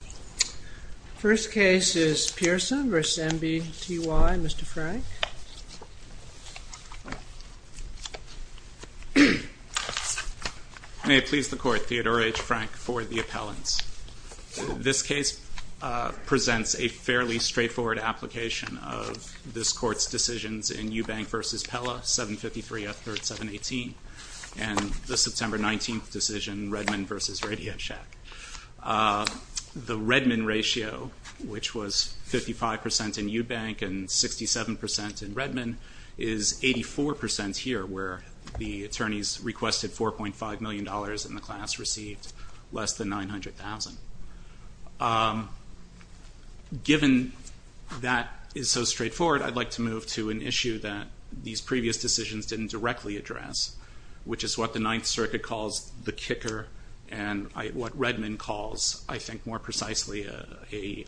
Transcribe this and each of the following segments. The first case is Pearson v. NBTY, Mr. Frank. May it please the court, Theodore H. Frank for the appellants. This case presents a fairly straightforward application of this court's decisions in Eubank v. Pella, 753 F. 3rd, 718, and the September 19th decision, Redmond v. Radiachak. The Redmond ratio, which was 55% in Eubank and 67% in Redmond, is 84% here, where the attorneys requested $4.5 million and the class received less than $900,000. Given that is so straightforward, I'd like to move to an issue that these previous decisions didn't directly address, which is what the Ninth Circuit calls the kicker and what Redmond calls, I think more precisely, a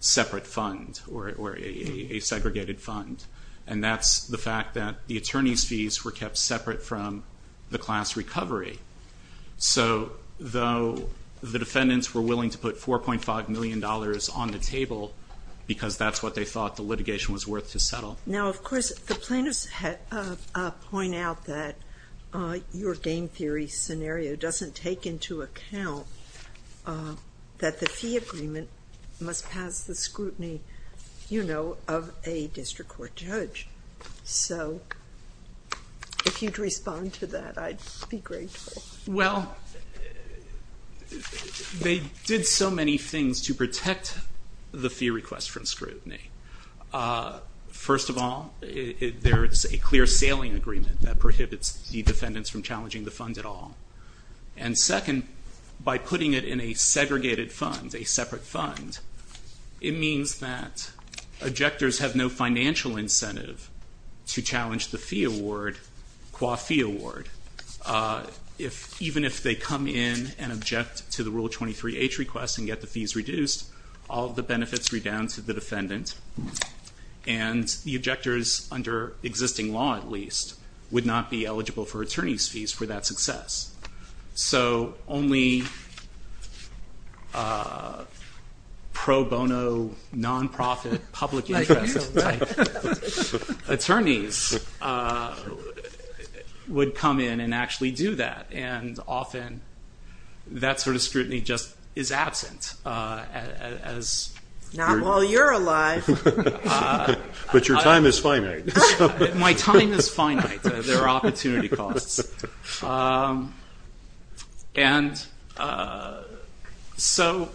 separate fund or a segregated fund, and that's the fact that the attorney's fees were kept separate from the class recovery. So, though the defendants were willing to put $4.5 million on the table because that's what they thought the litigation was worth to settle. Now, of course, the plaintiffs point out that your game theory scenario doesn't take into account that the fee agreement must pass the scrutiny, you know, of a district court judge. So, if you'd respond to that, I'd be grateful. Well, they did so many things to protect the fee request from scrutiny. First of all, there is a clear sailing agreement that prohibits the defendants from challenging the fund at all, and second, by putting it in a segregated fund, a separate fund, it means that objectors have no financial incentive to challenge the fee award, qua fee award. If, even if they come in and object to the Rule 23H request and get the fees reduced, all the benefits redound to the defendant. And the objectors, under existing law at least, would not be eligible for attorney's fees for that success. So, only pro bono, non-profit, public interest type attorneys would come in and actually do that, and often that sort of scrutiny just is absent. Not while you're alive. But your time is finite. My time is finite. There are opportunity costs. And so,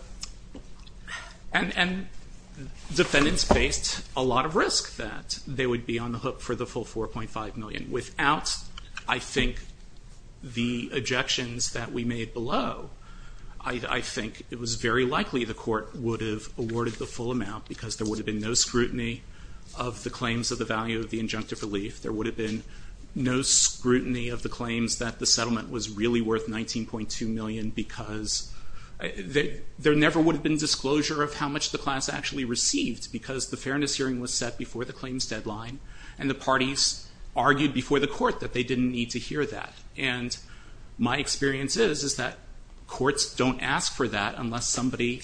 defendants faced a lot of risk that they would be on the hook for the full 4.5 million without, I think, the likely the court would have awarded the full amount because there would have been no scrutiny of the claims of the value of the injunctive relief. There would have been no scrutiny of the claims that the settlement was really worth 19.2 million because there never would have been disclosure of how much the class actually received because the fairness hearing was set before the claims deadline, and the parties argued before the court that they didn't need to hear that. And my experience is, is that courts don't ask for that unless somebody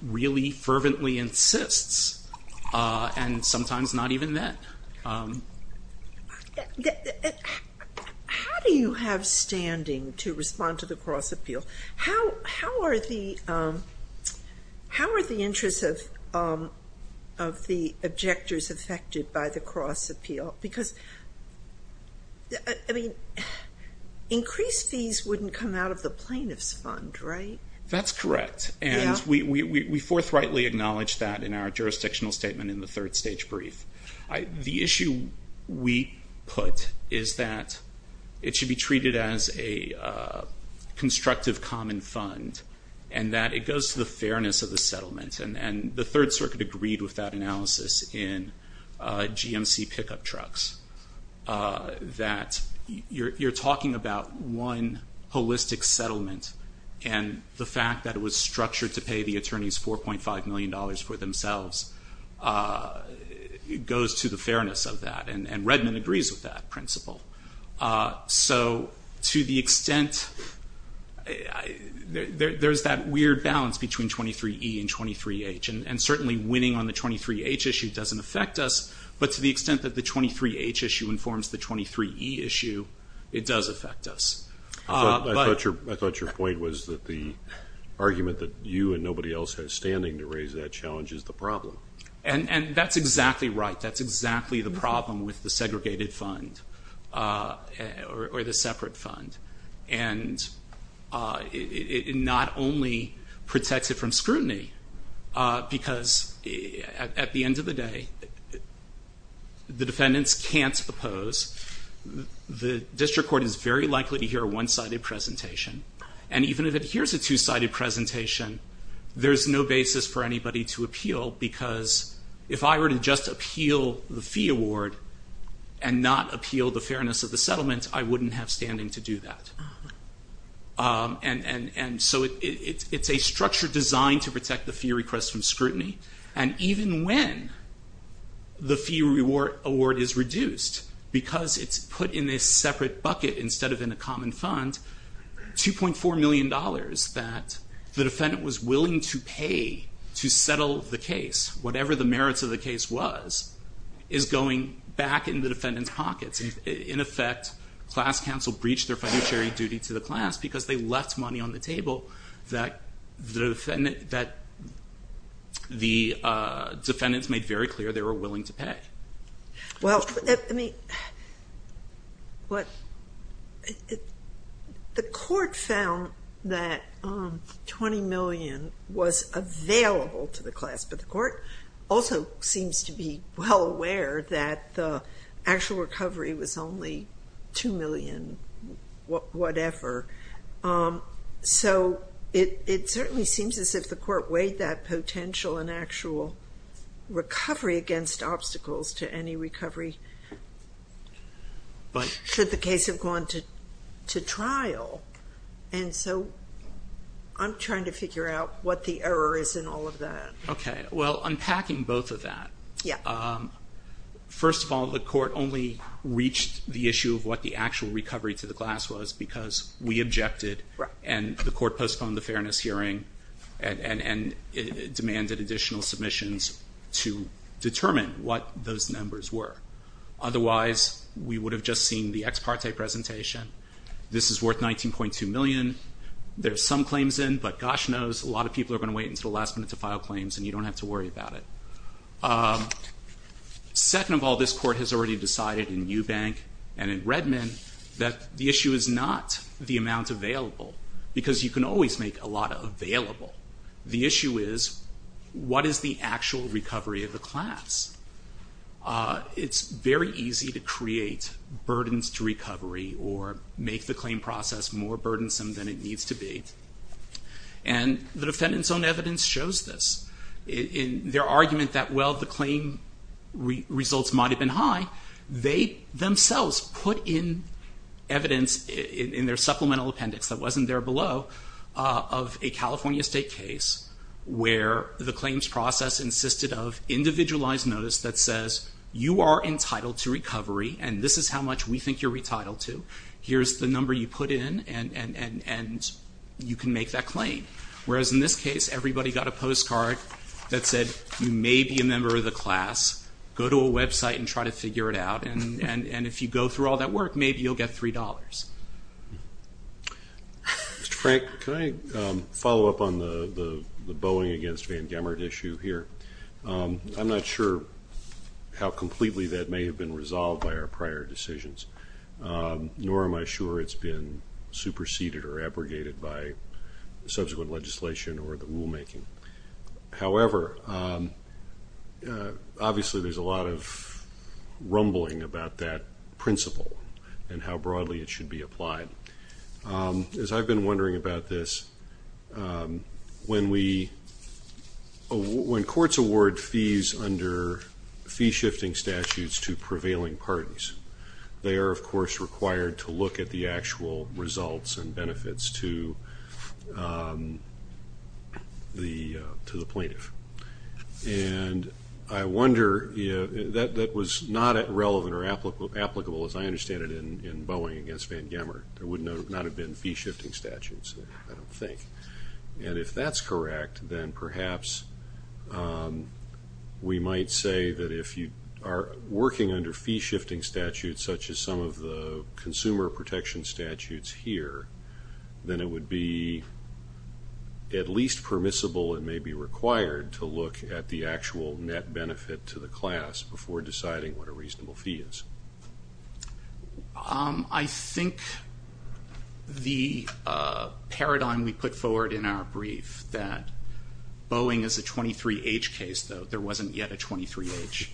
really fervently insists, and sometimes not even then. How do you have standing to respond to the cross-appeal? How are the how are the interests of the objectors affected by the cross-appeal? Because, I mean, increased fees wouldn't come out of the plaintiff's fund, right? That's correct. And we forthrightly acknowledge that in our jurisdictional statement in the third stage brief. The issue we put is that it should be treated as a constructive common fund, and that it goes to the fairness of the settlement. And the Third Circuit agreed with that analysis in GMC pickup trucks, that you're talking about one holistic settlement, and the fact that it was structured to pay the attorneys 4.5 million dollars for themselves, goes to the fairness of that, and Redmond agrees with that principle. So to the extent, there's that weird balance between 23E and 23H, and certainly winning on the 23H issue doesn't affect us, but to the extent that the 23H issue informs the 23E issue, it does affect us. I thought your point was that the argument that you and nobody else has standing to raise that challenge is the problem. And that's exactly right. That's exactly the problem with the segregated fund, or the separate fund, and it not only protects it from scrutiny, because at the end of the day, the defendants can't oppose. The district court is very likely to hear a one-sided presentation, and even if it hears a two-sided presentation, there's no basis for anybody to appeal, because if I were to just appeal the fee award and not appeal the fairness of the settlement, I wouldn't have standing to do that. And so it's a structure designed to protect the fee request from scrutiny, and even when the fee award is reduced, because it's put in this separate bucket instead of in a common fund, $2.4 million that the defendant was willing to pay to settle the case, whatever the merits of the case was, is going back in the defendants' pockets. In effect, class counsel breached their fiduciary duty to the class because they left money on the table that the defendants made very clear they were willing to pay. Well, I mean, what, the court found that $20 million was available to the class, but the court also seems to be well aware that the actual recovery was only $2 million, whatever. So it certainly seems as if the court weighed that potential and actual recovery against obstacles to any recovery, should the case have gone to trial. And so I'm trying to figure out what the error is in all of that. Okay. Well, unpacking both of that. Yeah. First of all, the court only reached the issue of what the actual recovery to the class was, because we objected, and the court postponed the fairness hearing, and demanded additional submissions to determine what those numbers were. Otherwise, we would have just seen the ex parte presentation. This is worth $19.2 million. There's some claims in, but gosh knows a lot of people are going to wait until the last minute to file claims, and you don't have to worry about it. Second of all, this court has already decided in Eubank and in Redmond that the issue is not the amount available, because you can always make a lot available. The issue is, what is the actual recovery of the class? It's very easy to create burdens to recovery or make the claim process more burdensome than it needs to be, and the defendant's own evidence shows this. In their argument that, well, the claim results might have been high, they themselves put in evidence in their supplemental appendix that wasn't there below, of a California State case where the claims process insisted of individualized notice that says, you are entitled to recovery, and this is how much we think you're retitled to. Here's the number you put in, and you can make that claim. Whereas in this case, everybody got a postcard, that said, you may be a member of the class, go to a website and try to figure it out, and if you go through all that work, maybe you'll get three dollars. Mr. Frank, can I follow up on the Boeing against Van Gamert issue here? I'm not sure how completely that may have been resolved by our prior decisions, nor am I sure it's been superseded or abrogated by subsequent legislation or the rulemaking. However, obviously, there's a lot of rumbling about that principle and how broadly it should be applied. As I've been wondering about this, when we, when courts award fees under fee shifting statutes to prevailing parties, they are, of course, required to look at the actual results and benefits to the plaintiff. And I wonder, you know, that was not relevant or applicable, as I understand it, in Boeing against Van Gamert. There would not have been fee shifting statutes, I don't think. And if that's correct, then perhaps we might say that if you are working under fee shifting statutes, such as some of the consumer protection statutes here, then it would be at least permissible, it may be required, to look at the actual net benefit to the class before deciding what a reasonable fee is. I think the paradigm we put forward in our brief, that Boeing is a 23H case, though there wasn't yet a 23H,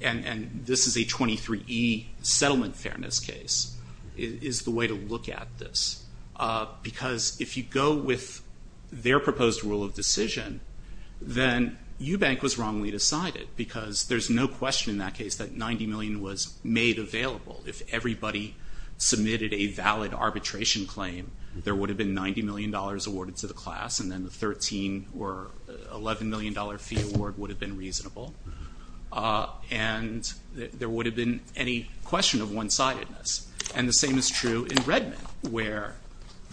and this is a 23E settlement fairness case, is the way to look at this. Because if you go with their proposed rule of decision, then Eubank was wrongly decided, because there's no question in that case that $90 million was made available. If everybody submitted a valid arbitration claim, there would have been $90 million awarded to the class, and then the $13 or $11 million fee award would have been reasonable. And there would have been any question of one-sidedness. And the same is true in Redmond, where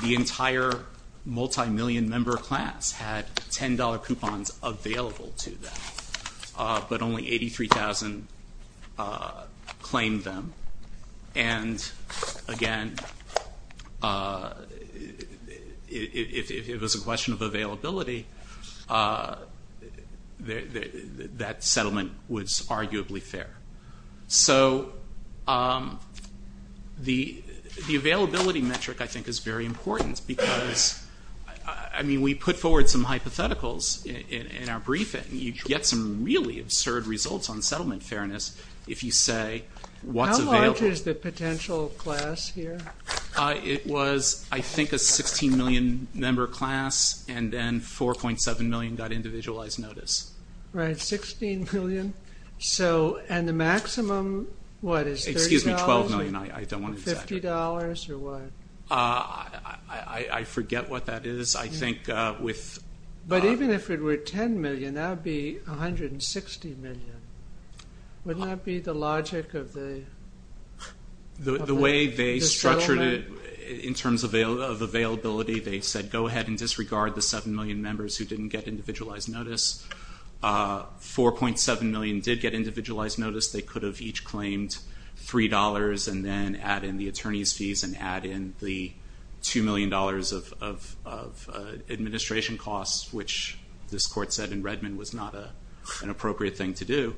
the entire multi-million member class had $10 coupons available to them, but only 83,000 claimed them. And again, if it was a question of availability, that settlement was arguably fair. So the availability metric, I think, is very important because, I mean, we put forward some hypotheticals in our briefing. You get some really absurd results on settlement fairness if you say what's available. How large is the potential class here? It was, I think, a 16 million member class, and then 4.7 million got individualized notice. Right, 16 million. So, and the maximum excuse me, 12 million. I don't want to exaggerate. $50 or what? I forget what that is. I think with... But even if it were 10 million, that would be 160 million. Wouldn't that be the logic of the settlement? The way they structured it in terms of availability, they said go ahead and disregard the 7 million members who didn't get individualized notice. 4.7 million did get individualized notice. They could have each claimed $3 and then add in the attorney's fees and add in the 2 million dollars of administration costs, which this court said in Redmond was not an appropriate thing to do.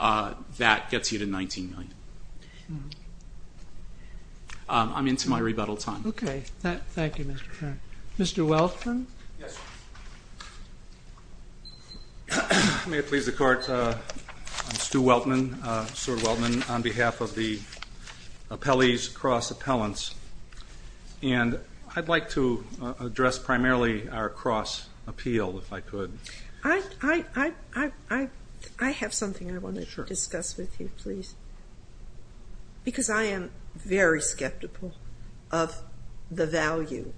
That gets you to 19 million. I'm into my rebuttal time. Okay, thank you, Mr. Frank. Mr. Welkman? May it please the court, I'm Stu Welkman, Sir Welkman, on behalf of the appellees, cross appellants, and I'd like to address primarily our cross appeal, if I could. I have something I want to discuss with you, please. Because I am very skeptical of the value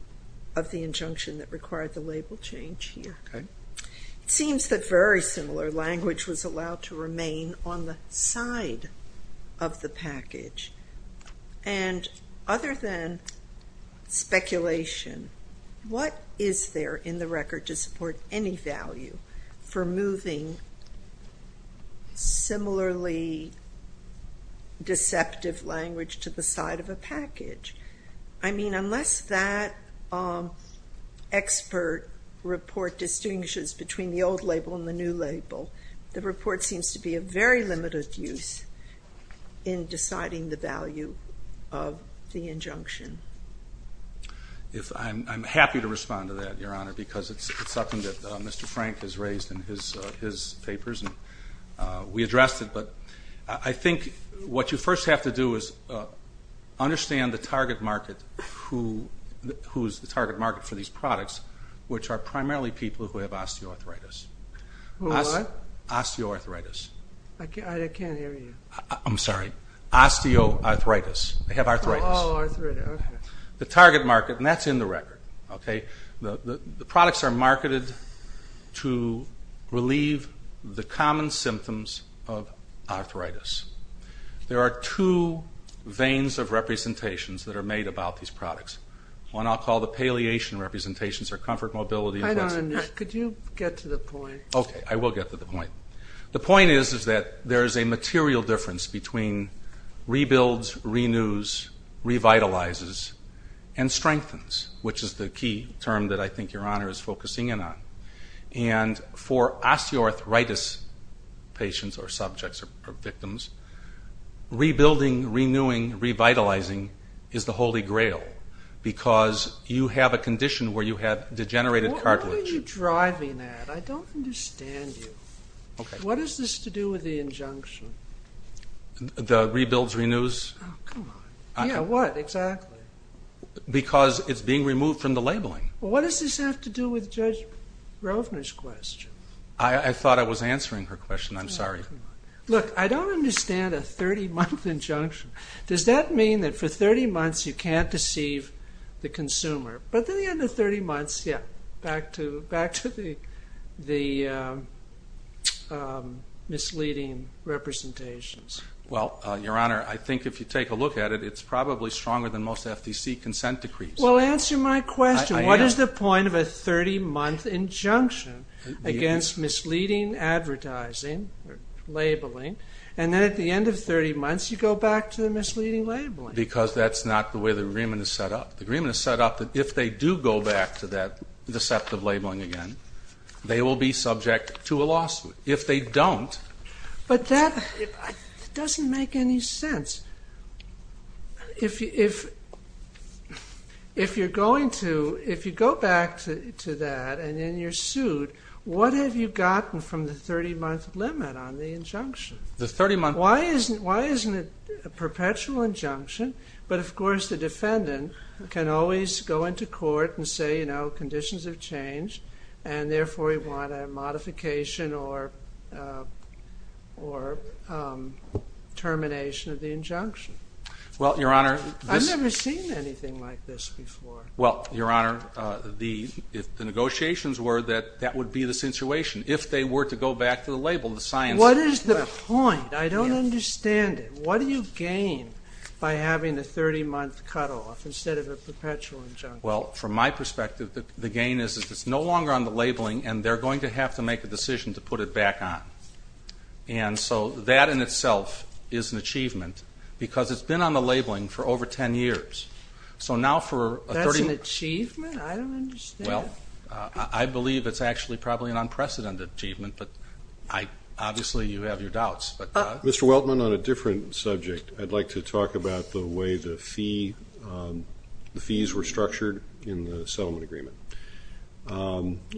of the injunction that required the label change here. It seems that very similar language was allowed to remain on the side of the package. Other than speculation, what is there in the record to support any value for moving similarly deceptive language to the side of a package? I mean, unless that expert report distinguishes between the old label and the new label, the report seems to be a very limited use in deciding the value of the injunction. I'm happy to respond to that, Your Honor, because it's something that Mr. Frank has raised in his papers, and we addressed it, but I think what you first have to do is understand the target market who's the target market for these products, which are primarily people who have osteoarthritis. Osteoarthritis. I'm sorry, osteoarthritis. They have arthritis. The target market, and that's in the record, okay? The products are marketed to relieve the common symptoms of arthritis. There are two veins of representations that are made about these products. One I'll call the paleation representations or comfort mobility. Could you get to the point? Okay, I will get to the point. The point is is that there is a material difference between rebuilds, renews, revitalizes, and strengthens, which is the key term that I think Your Honor is focusing in on. And for osteoarthritis patients or subjects or victims, rebuilding, renewing, revitalizing is the holy grail because you have a condition where you have degenerated cartilage. What are you driving at? I don't understand you. What is this to do with the injunction? The rebuilds, renews? Yeah, what exactly? Because it's being removed from the labeling. What does this have to do with Judge Rovner's question? I thought I was answering her question. I'm sorry. Look, I don't understand a 30-month injunction. Does that mean that for 30 months you can't deceive the consumer? But at the end of 30 months, yeah, back to the misleading representations. Well, Your Honor, I think if you take a look at it, it's probably stronger than most FTC consent decrees. Well, answer my question. What is the point of a 30-month injunction against misleading advertising? Labeling, and then at the end of 30 months you go back to the misleading labeling. Because that's not the way the agreement is set up. The agreement is set up that if they do go back to that deceptive labeling again, they will be subject to a lawsuit. If they don't, but that doesn't make any sense. If you're going to, if you go back to that and then you're sued, what have you gotten from the 30-month limit on the injunction? Why isn't it a perpetual injunction? But of course the defendant can always go into court and say, you know, conditions have changed and therefore we want a modification or termination of the injunction. Well, Your Honor, I've never seen anything like this before. Well, Your Honor, if the negotiations were that, that would be the situation. If they were to go back to the label, the science... What is the point? I don't understand it. What do you gain by having a 30-month cut-off instead of a perpetual injunction? Well, from my perspective, the gain is if it's no longer on the labeling and they're going to have to make a decision to put it back on. And so that in itself is an achievement because it's been on the labeling for over 10 years. So now for a 30-month... That's an achievement? I don't understand. Well, I believe it's actually probably an unprecedented achievement, but I obviously you have your doubts, but... Mr. Weltman, on a different subject, I'd like to talk about the way the fee, the fees were structured in the settlement agreement.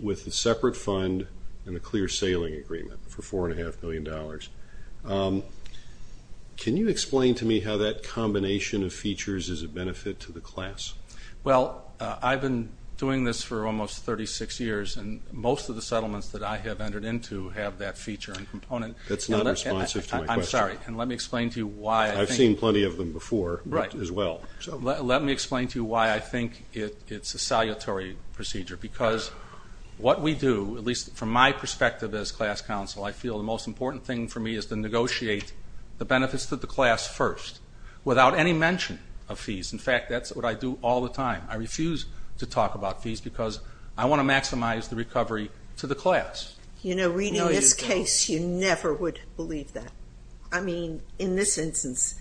With the separate fund and a clear sailing agreement for four and a half million dollars, can you explain to me how that combination of features is a benefit to the class? Well, I've been doing this for almost 36 years and most of the settlements that I have entered into have that feature and component. That's not responsive to my question. I'm sorry, and let me explain to you why... I've seen plenty of them before, right, as well. So let me explain to you why I think it's a salutary procedure because what we do, at least from my perspective as class counsel, I feel the most important thing for me is to negotiate the benefits to the class first without any mention of fees. In fact, that's what I do all the time. I refuse to talk about fees because I want to maximize the recovery to the class. You know, reading this case, you never would believe that. I mean, in this instance,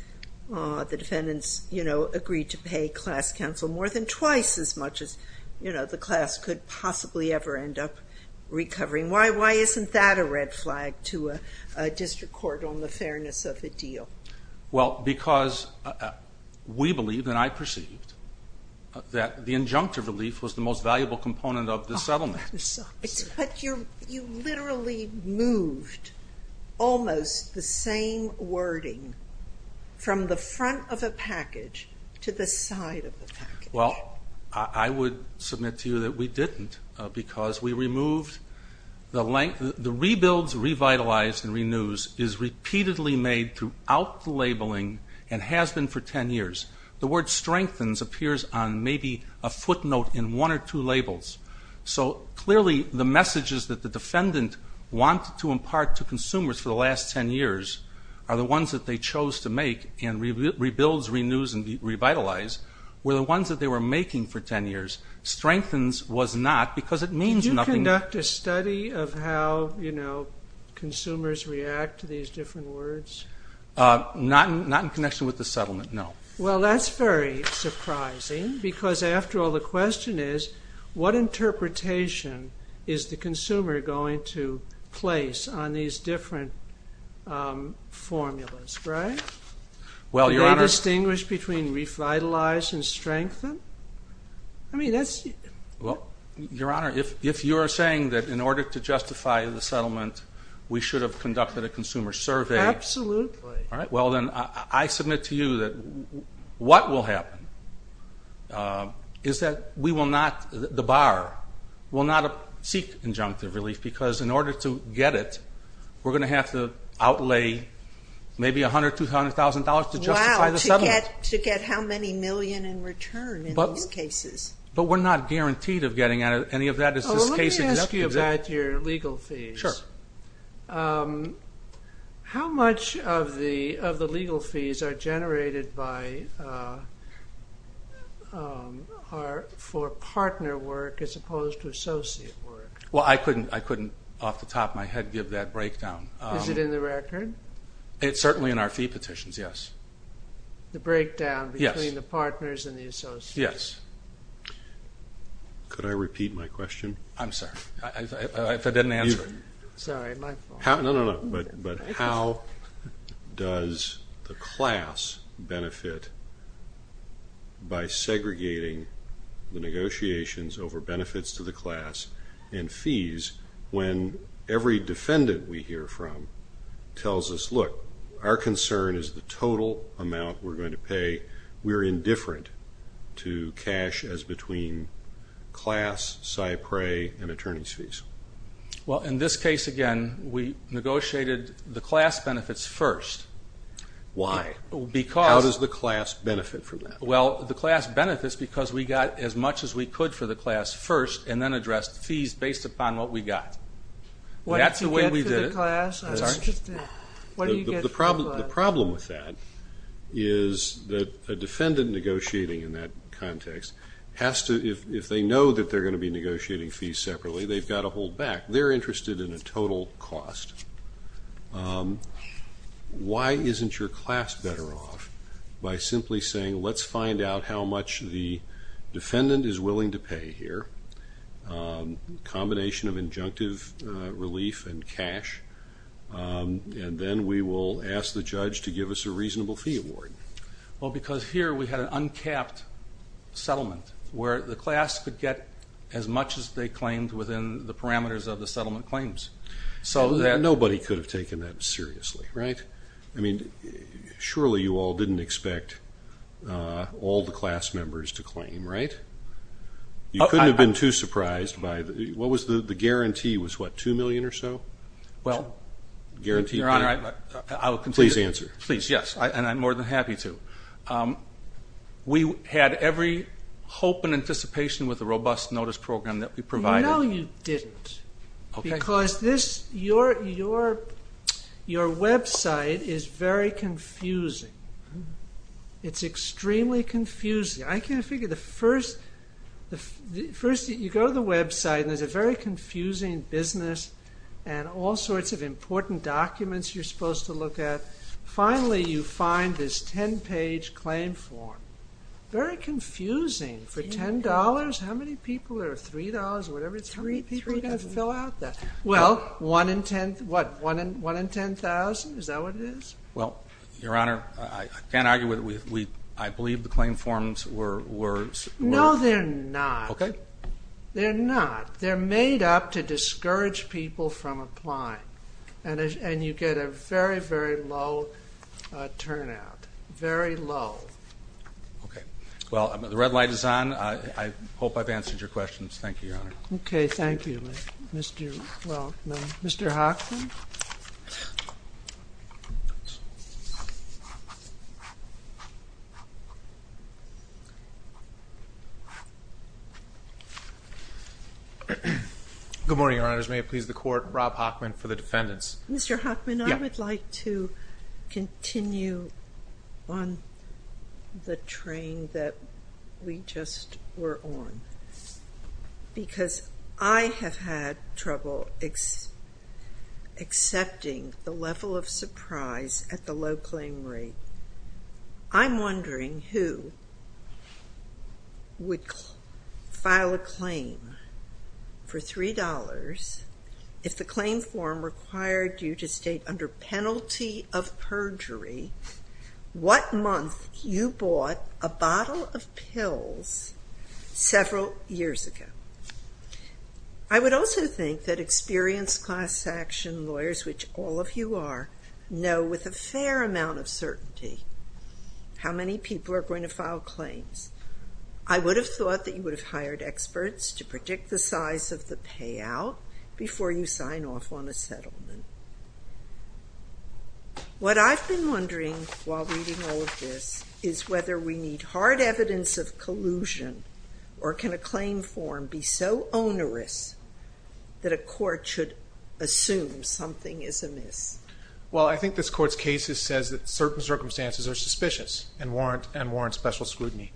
the defendants, you know, agreed to pay class counsel more than twice as much as, you know, the class could possibly ever end up recovering. Why isn't that a red flag to a district court on the fairness of a deal? Well, because we believe and I perceived that the injunctive relief was the most valuable component of the settlement. But you literally moved almost the same wording from the front of a package to the side of the package. Well, I would submit to you that we didn't because we removed the length. The rebuilds, revitalize and renews is repeatedly made throughout the labeling and has been for 10 years. The word strengthens appears on maybe a footnote in one or two labels. So clearly the messages that the defendant wanted to impart to consumers for the last 10 years are the ones that they chose to make and rebuilds, renews and revitalize were the ones that they were making for 10 years. Strengthens was not because it means nothing. Did you conduct a study of how, you know, consumers react to these different words? Not in connection with the settlement, no. Well, that's very surprising because after all, the question is, what interpretation is the consumer going to place on these different formulas, right? Well, Your Honor- Do they distinguish between revitalize and strengthen? I mean, that's- Well, Your Honor, if you're saying that in order to justify the settlement, we should have conducted a consumer survey- Absolutely. All right. Well, then I submit to you that what will happen is that we will not, the bar will not seek injunctive relief because in order to get it, we're going to have to outlay maybe $100,000, $200,000 to justify the settlement. Wow, to get how many million in return in these cases. But we're not guaranteed of getting any of that. Oh, let me ask you about your legal fees. Sure. How much of the legal fees are generated for partner work as opposed to associate work? Well, I couldn't off the top of my head give that breakdown. Is it in the record? It's certainly in our fee petitions, yes. The breakdown between the partners and the associates? Yes. Could I repeat my question? I'm sorry, if I didn't answer it. Sorry, my fault. over benefits to the class and fees when every defendant we hear from tells us, look, our concern is the total amount we're going to pay. We're indifferent to cash as between class, Cypre and attorney's fees. Well, in this case, again, we negotiated the class benefits first. Why? Because- How does the class benefit from that? Well, the class benefits because we got as much as we could for the class first and then addressed fees based upon what we got. That's the way we did it. What did you get for the class? I was just- The problem with that is that a defendant negotiating in that context has to, if they know that they're going to be negotiating fees separately, they've got to hold back. They're interested in a total cost. Why isn't your class better off by simply saying, let's find out how much the defendant is willing to pay here, combination of injunctive relief and cash, and then we will ask the judge to give us a reasonable fee award? Well, because here we had an uncapped settlement where the class could get as much as they claimed within the parameters of the settlement claims. So that- Nobody could have taken that seriously, right? I mean, surely you all didn't expect all the class members to claim, right? You couldn't have been too surprised by the- What was the guarantee? It was what? Two million or so? Well- Guarantee- Your Honor, I will continue- Please answer. Please, yes. And I'm more than happy to. We had every hope and anticipation with the robust notice program that we provided- No, you didn't. Okay. Because this- your website is very confusing. It's extremely confusing. I can't figure the first- first you go to the website and there's a very confusing business and all sorts of important documents you're supposed to look at. Finally you find this 10-page claim form. Very confusing. For $10, how many people- or $3 or whatever it's- Three- How many people are going to fill out that? Well, 1 in 10- what? 1 in 10,000? Is that what it is? Well, Your Honor, I can't argue with- I believe the claim forms were- No, they're not. Okay. They're not. They're made up to discourage people from applying. And you get a very, very low turnout. Very low. Okay. Well, the red light is on. I hope I've answered your questions. Thank you, Your Honor. Okay. Thank you. Mr.- well, no. Mr. Hockman? Good morning, Your Honors. May it please the Court, Rob Hockman for the defendants. Mr. Hockman, I would like to continue on the train that we just were on. Because I have had trouble accepting the level of surprise at the low claim rate. I'm wondering who would file a claim for $3 if the claim form required you to state under penalty of perjury what month you bought a bottle of pills several years ago. I would also think that experienced class action lawyers, which all of you are, know with a fair amount of certainty how many people are going to file claims. I would have thought that you would have hired experts to predict the size of the payout before you sign off on a settlement. What I've been wondering while reading all of this is whether we need hard evidence of collusion or can a claim form be so onerous that a court should assume something is amiss? Well, I think this Court's case says that certain circumstances are suspicious and warrant special scrutiny.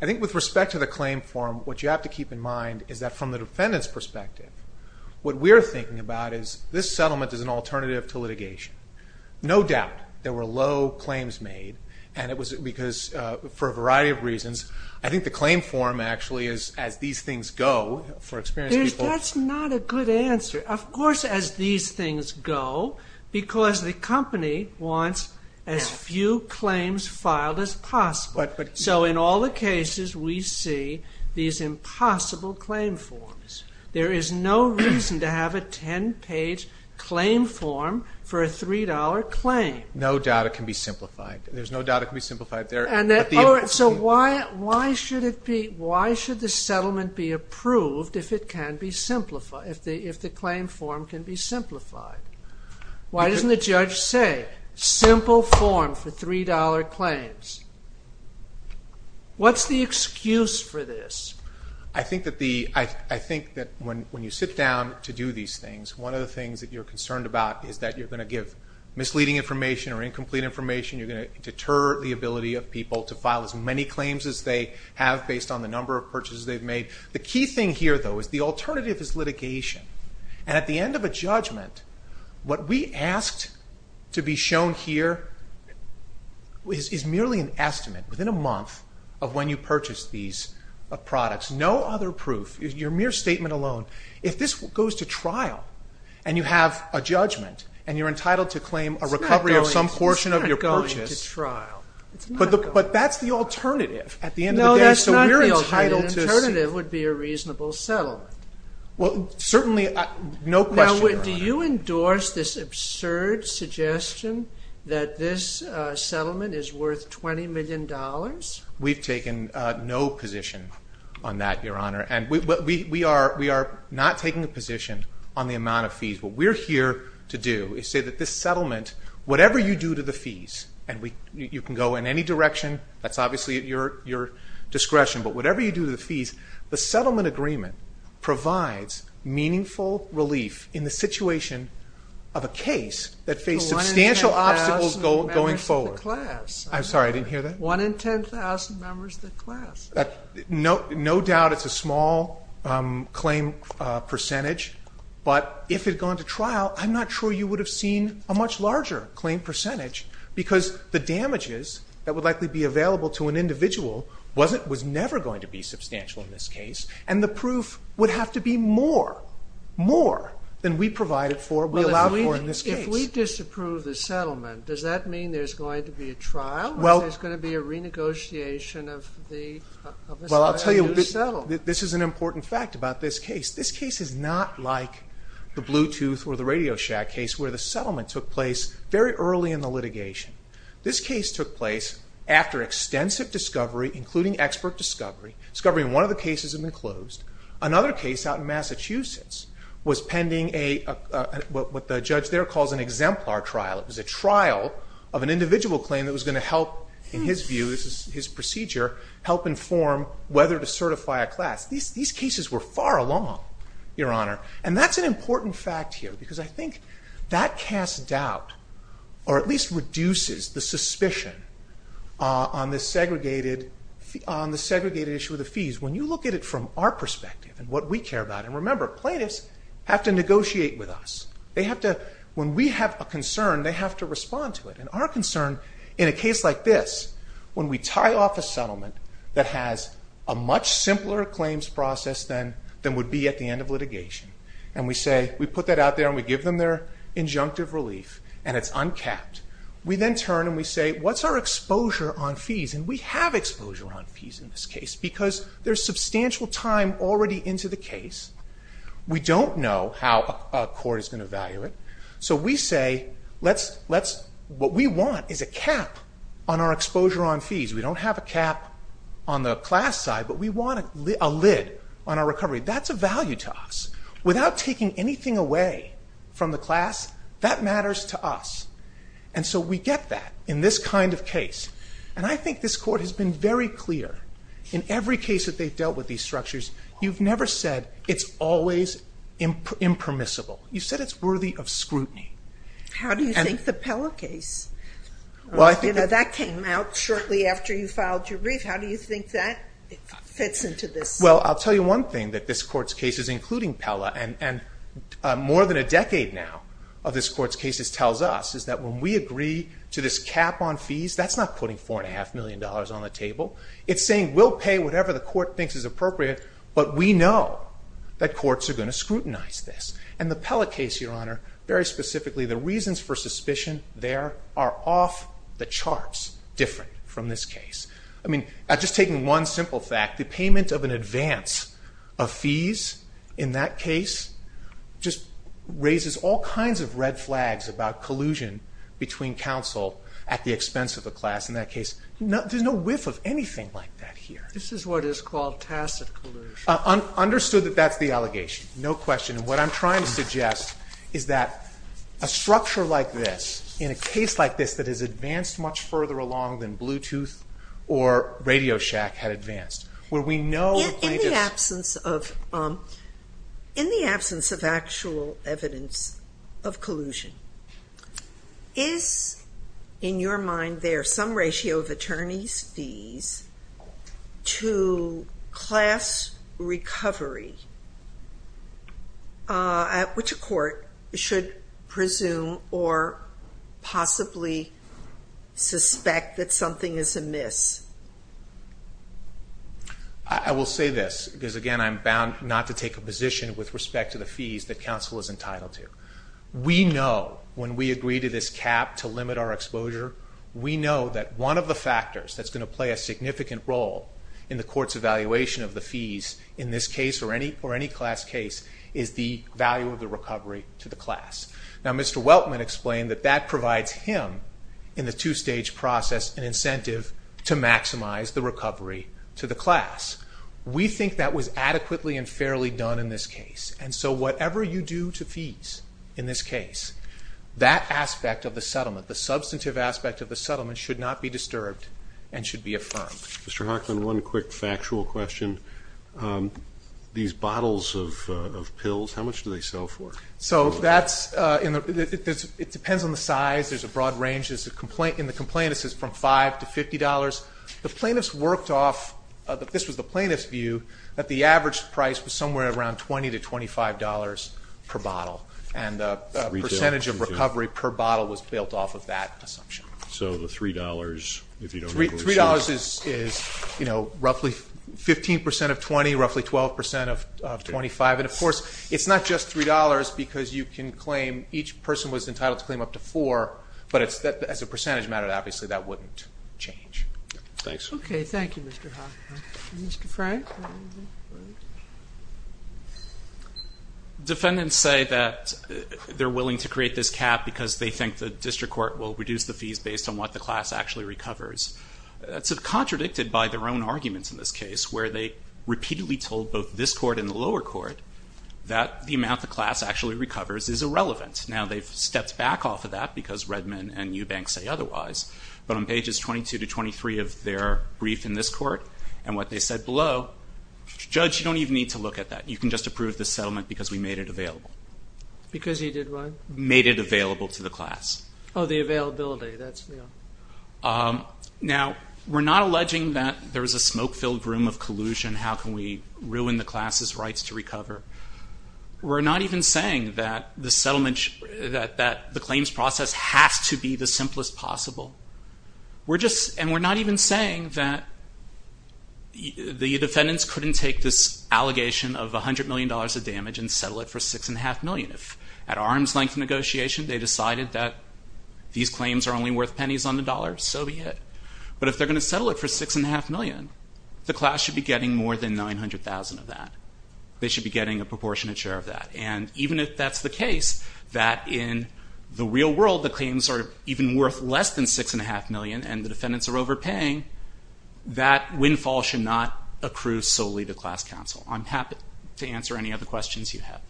I think with respect to the claim form, what you have to keep in mind is that from the What we're thinking about is this settlement is an alternative to litigation. No doubt there were low claims made and it was because, for a variety of reasons, I think the claim form actually is, as these things go, for experienced people That's not a good answer. Of course as these things go, because the company wants as few claims filed as possible. So in all the cases we see these impossible claim forms. There is no reason to have a 10-page claim form for a $3 claim. No doubt it can be simplified. There's no doubt it can be simplified. So why should the settlement be approved if the claim form can be simplified? Why doesn't the judge say, simple form for $3 claims? What's the excuse for this? I think that when you sit down to do these things, one of the things that you're concerned about is that you're going to give misleading information or incomplete information. You're going to deter the ability of people to file as many claims as they have based on the number of purchases they've made. The key thing here, though, is the alternative is litigation. And at the end of a judgment, what we asked to be shown here is merely an estimate, within a month of when you purchased these products, no other proof, your mere statement alone. If this goes to trial, and you have a judgment, and you're entitled to claim a recovery of some portion of your purchase, but that's the alternative at the end of the day. No, that's not the alternative. The alternative would be a reasonable settlement. Well, certainly, no question about that. Do you endorse this absurd suggestion that this settlement is worth $20 million? We've taken no position on that, Your Honor. We are not taking a position on the amount of fees. What we're here to do is say that this settlement, whatever you do to the fees, and you can go in any direction, that's obviously at your discretion, but whatever you do to the fees, the settlement agreement provides meaningful relief in the situation of a case that faced substantial obstacles going forward. One in 10,000 members of the class. I'm sorry, I didn't hear that? One in 10,000 members of the class. No doubt it's a small claim percentage, but if it had gone to trial, I'm not sure you would have seen a much larger claim percentage, because the damages that would likely be available to an individual was never going to be substantial in this case, and the proof would have to be more, more than we provided for, we allowed for in this case. If we disapprove the settlement, does that mean there's going to be a trial? Is there going to be a renegotiation of the settlement? This is an important fact about this case. This case is not like the Bluetooth or the RadioShack case, where the settlement took place very early in the litigation. This case took place after extensive discovery, including expert discovery, discovering one of the cases had been closed. Another case out in Massachusetts was pending a, what the judge there calls an exemplar trial. It was a trial of an individual claim that was going to help, in his view, his procedure, help inform whether to certify a class. These cases were far along, Your Honor, and that's an important fact here, because I think that casts doubt, or at least reduces the suspicion on the segregated issue of the fees. When you look at it from our perspective and what we care about, and remember, plaintiffs have to negotiate with us. They have to, when we have a concern, they have to respond to it, and our concern in a case like this, when we tie off a settlement that has a much simpler claims process than would be at the end of litigation, and we say, we put that out there and we give them their injunctive relief, and it's uncapped, we then turn and we say, what's our exposure on fees, and we have exposure on fees in this case, because there's substantial time already into the case. We don't know how a court is going to value it, so we say, what we want is a cap on our exposure on fees. We don't have a cap on the class side, but we want a lid on our recovery. That's a value to us. Without taking anything away from the class, that matters to us. And so we get that in this kind of case, and I think this court has been very clear in every case that they've dealt with these structures, you've never said it's always impermissible. You said it's worthy of scrutiny. How do you think the Pella case, that came out shortly after you filed your brief, how do you think that fits into this? Well, I'll tell you one thing that this court's cases, including Pella, and more than a decade now of this court's cases tells us, is that when we agree to this cap on fees, that's not putting $4.5 million on the table. It's saying we'll pay whatever the court thinks is appropriate, but we know that courts are going to scrutinize this. And the Pella case, Your Honor, very specifically, the reasons for suspicion there are off the charts different from this case. I mean, just taking one simple fact, the payment of an advance of fees in that case just raises all kinds of red flags about collusion between counsel at the expense of the class in that case. There's no whiff of anything like that here. This is what is called tacit collusion. Understood that that's the allegation. No question. And what I'm trying to suggest is that a structure like this, in a case like this that has advanced much further along than Bluetooth or Radio Shack had advanced, where we know the plaintiff's In the absence of actual evidence of collusion, is in your mind there some ratio of attorney's to class recovery, which a court should presume or possibly suspect that something is amiss? I will say this, because again I'm bound not to take a position with respect to the fees that counsel is entitled to. We know when we agree to this cap to limit our exposure, we know that one of the factors that's going to play a significant role in the court's evaluation of the fees in this case or any class case is the value of the recovery to the class. Now Mr. Weltman explained that that provides him, in the two-stage process, an incentive to maximize the recovery to the class. We think that was adequately and fairly done in this case. And so whatever you do to fees in this case, that aspect of the settlement, the substantive aspect of the settlement should not be disturbed and should be affirmed. Mr. Hocklin, one quick factual question. These bottles of pills, how much do they sell for? So that's, it depends on the size, there's a broad range. In the complaint it says from $5 to $50. The plaintiff's worked off, this was the plaintiff's view, that the average price was somewhere around $20 to $25 per bottle. And the percentage of recovery per bottle was built off of that assumption. So the $3, if you don't recall, is $3. $3 is roughly 15% of $20, roughly 12% of $25, and of course, it's not just $3 because you can claim, each person was entitled to claim up to $4, but as a percentage matter, obviously that wouldn't change. Thanks. Okay. Thank you, Mr. Hocklin. Mr. Frank? Defendants say that they're willing to create this cap because they think the district court will reduce the fees based on what the class actually recovers. That's contradicted by their own arguments in this case, where they repeatedly told both this court and the lower court that the amount the class actually recovers is irrelevant. Now they've stepped back off of that because Redmond and Eubank say otherwise, but on pages 22 to 23 of their brief in this court, and what they said below, judge, you don't even need to look at that. You can just approve the settlement because we made it available. Because he did what? Made it available to the class. Oh, the availability, that's, you know. Now we're not alleging that there's a smoke-filled room of collusion, how can we ruin the class's rights to recover? We're not even saying that the settlement, that the claims process has to be the simplest possible. We're just, and we're not even saying that the defendants couldn't take this allegation of $100 million of damage and settle it for $6.5 million. At arm's length negotiation, they decided that these claims are only worth pennies on the dollar, so be it. But if they're going to settle it for $6.5 million, the class should be getting more than $900,000 of that. They should be getting a proportionate share of that. And even if that's the case, that in the real world, the claims are even worth less than $6.5 million and the defendants are overpaying, that windfall should not accrue solely to class counsel. I'm happy to answer any other questions you have.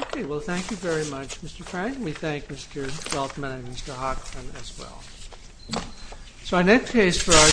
Okay, well thank you very much, Mr. Frank. We thank Mr. Feldman and Mr. Hochman as well. So our next case for our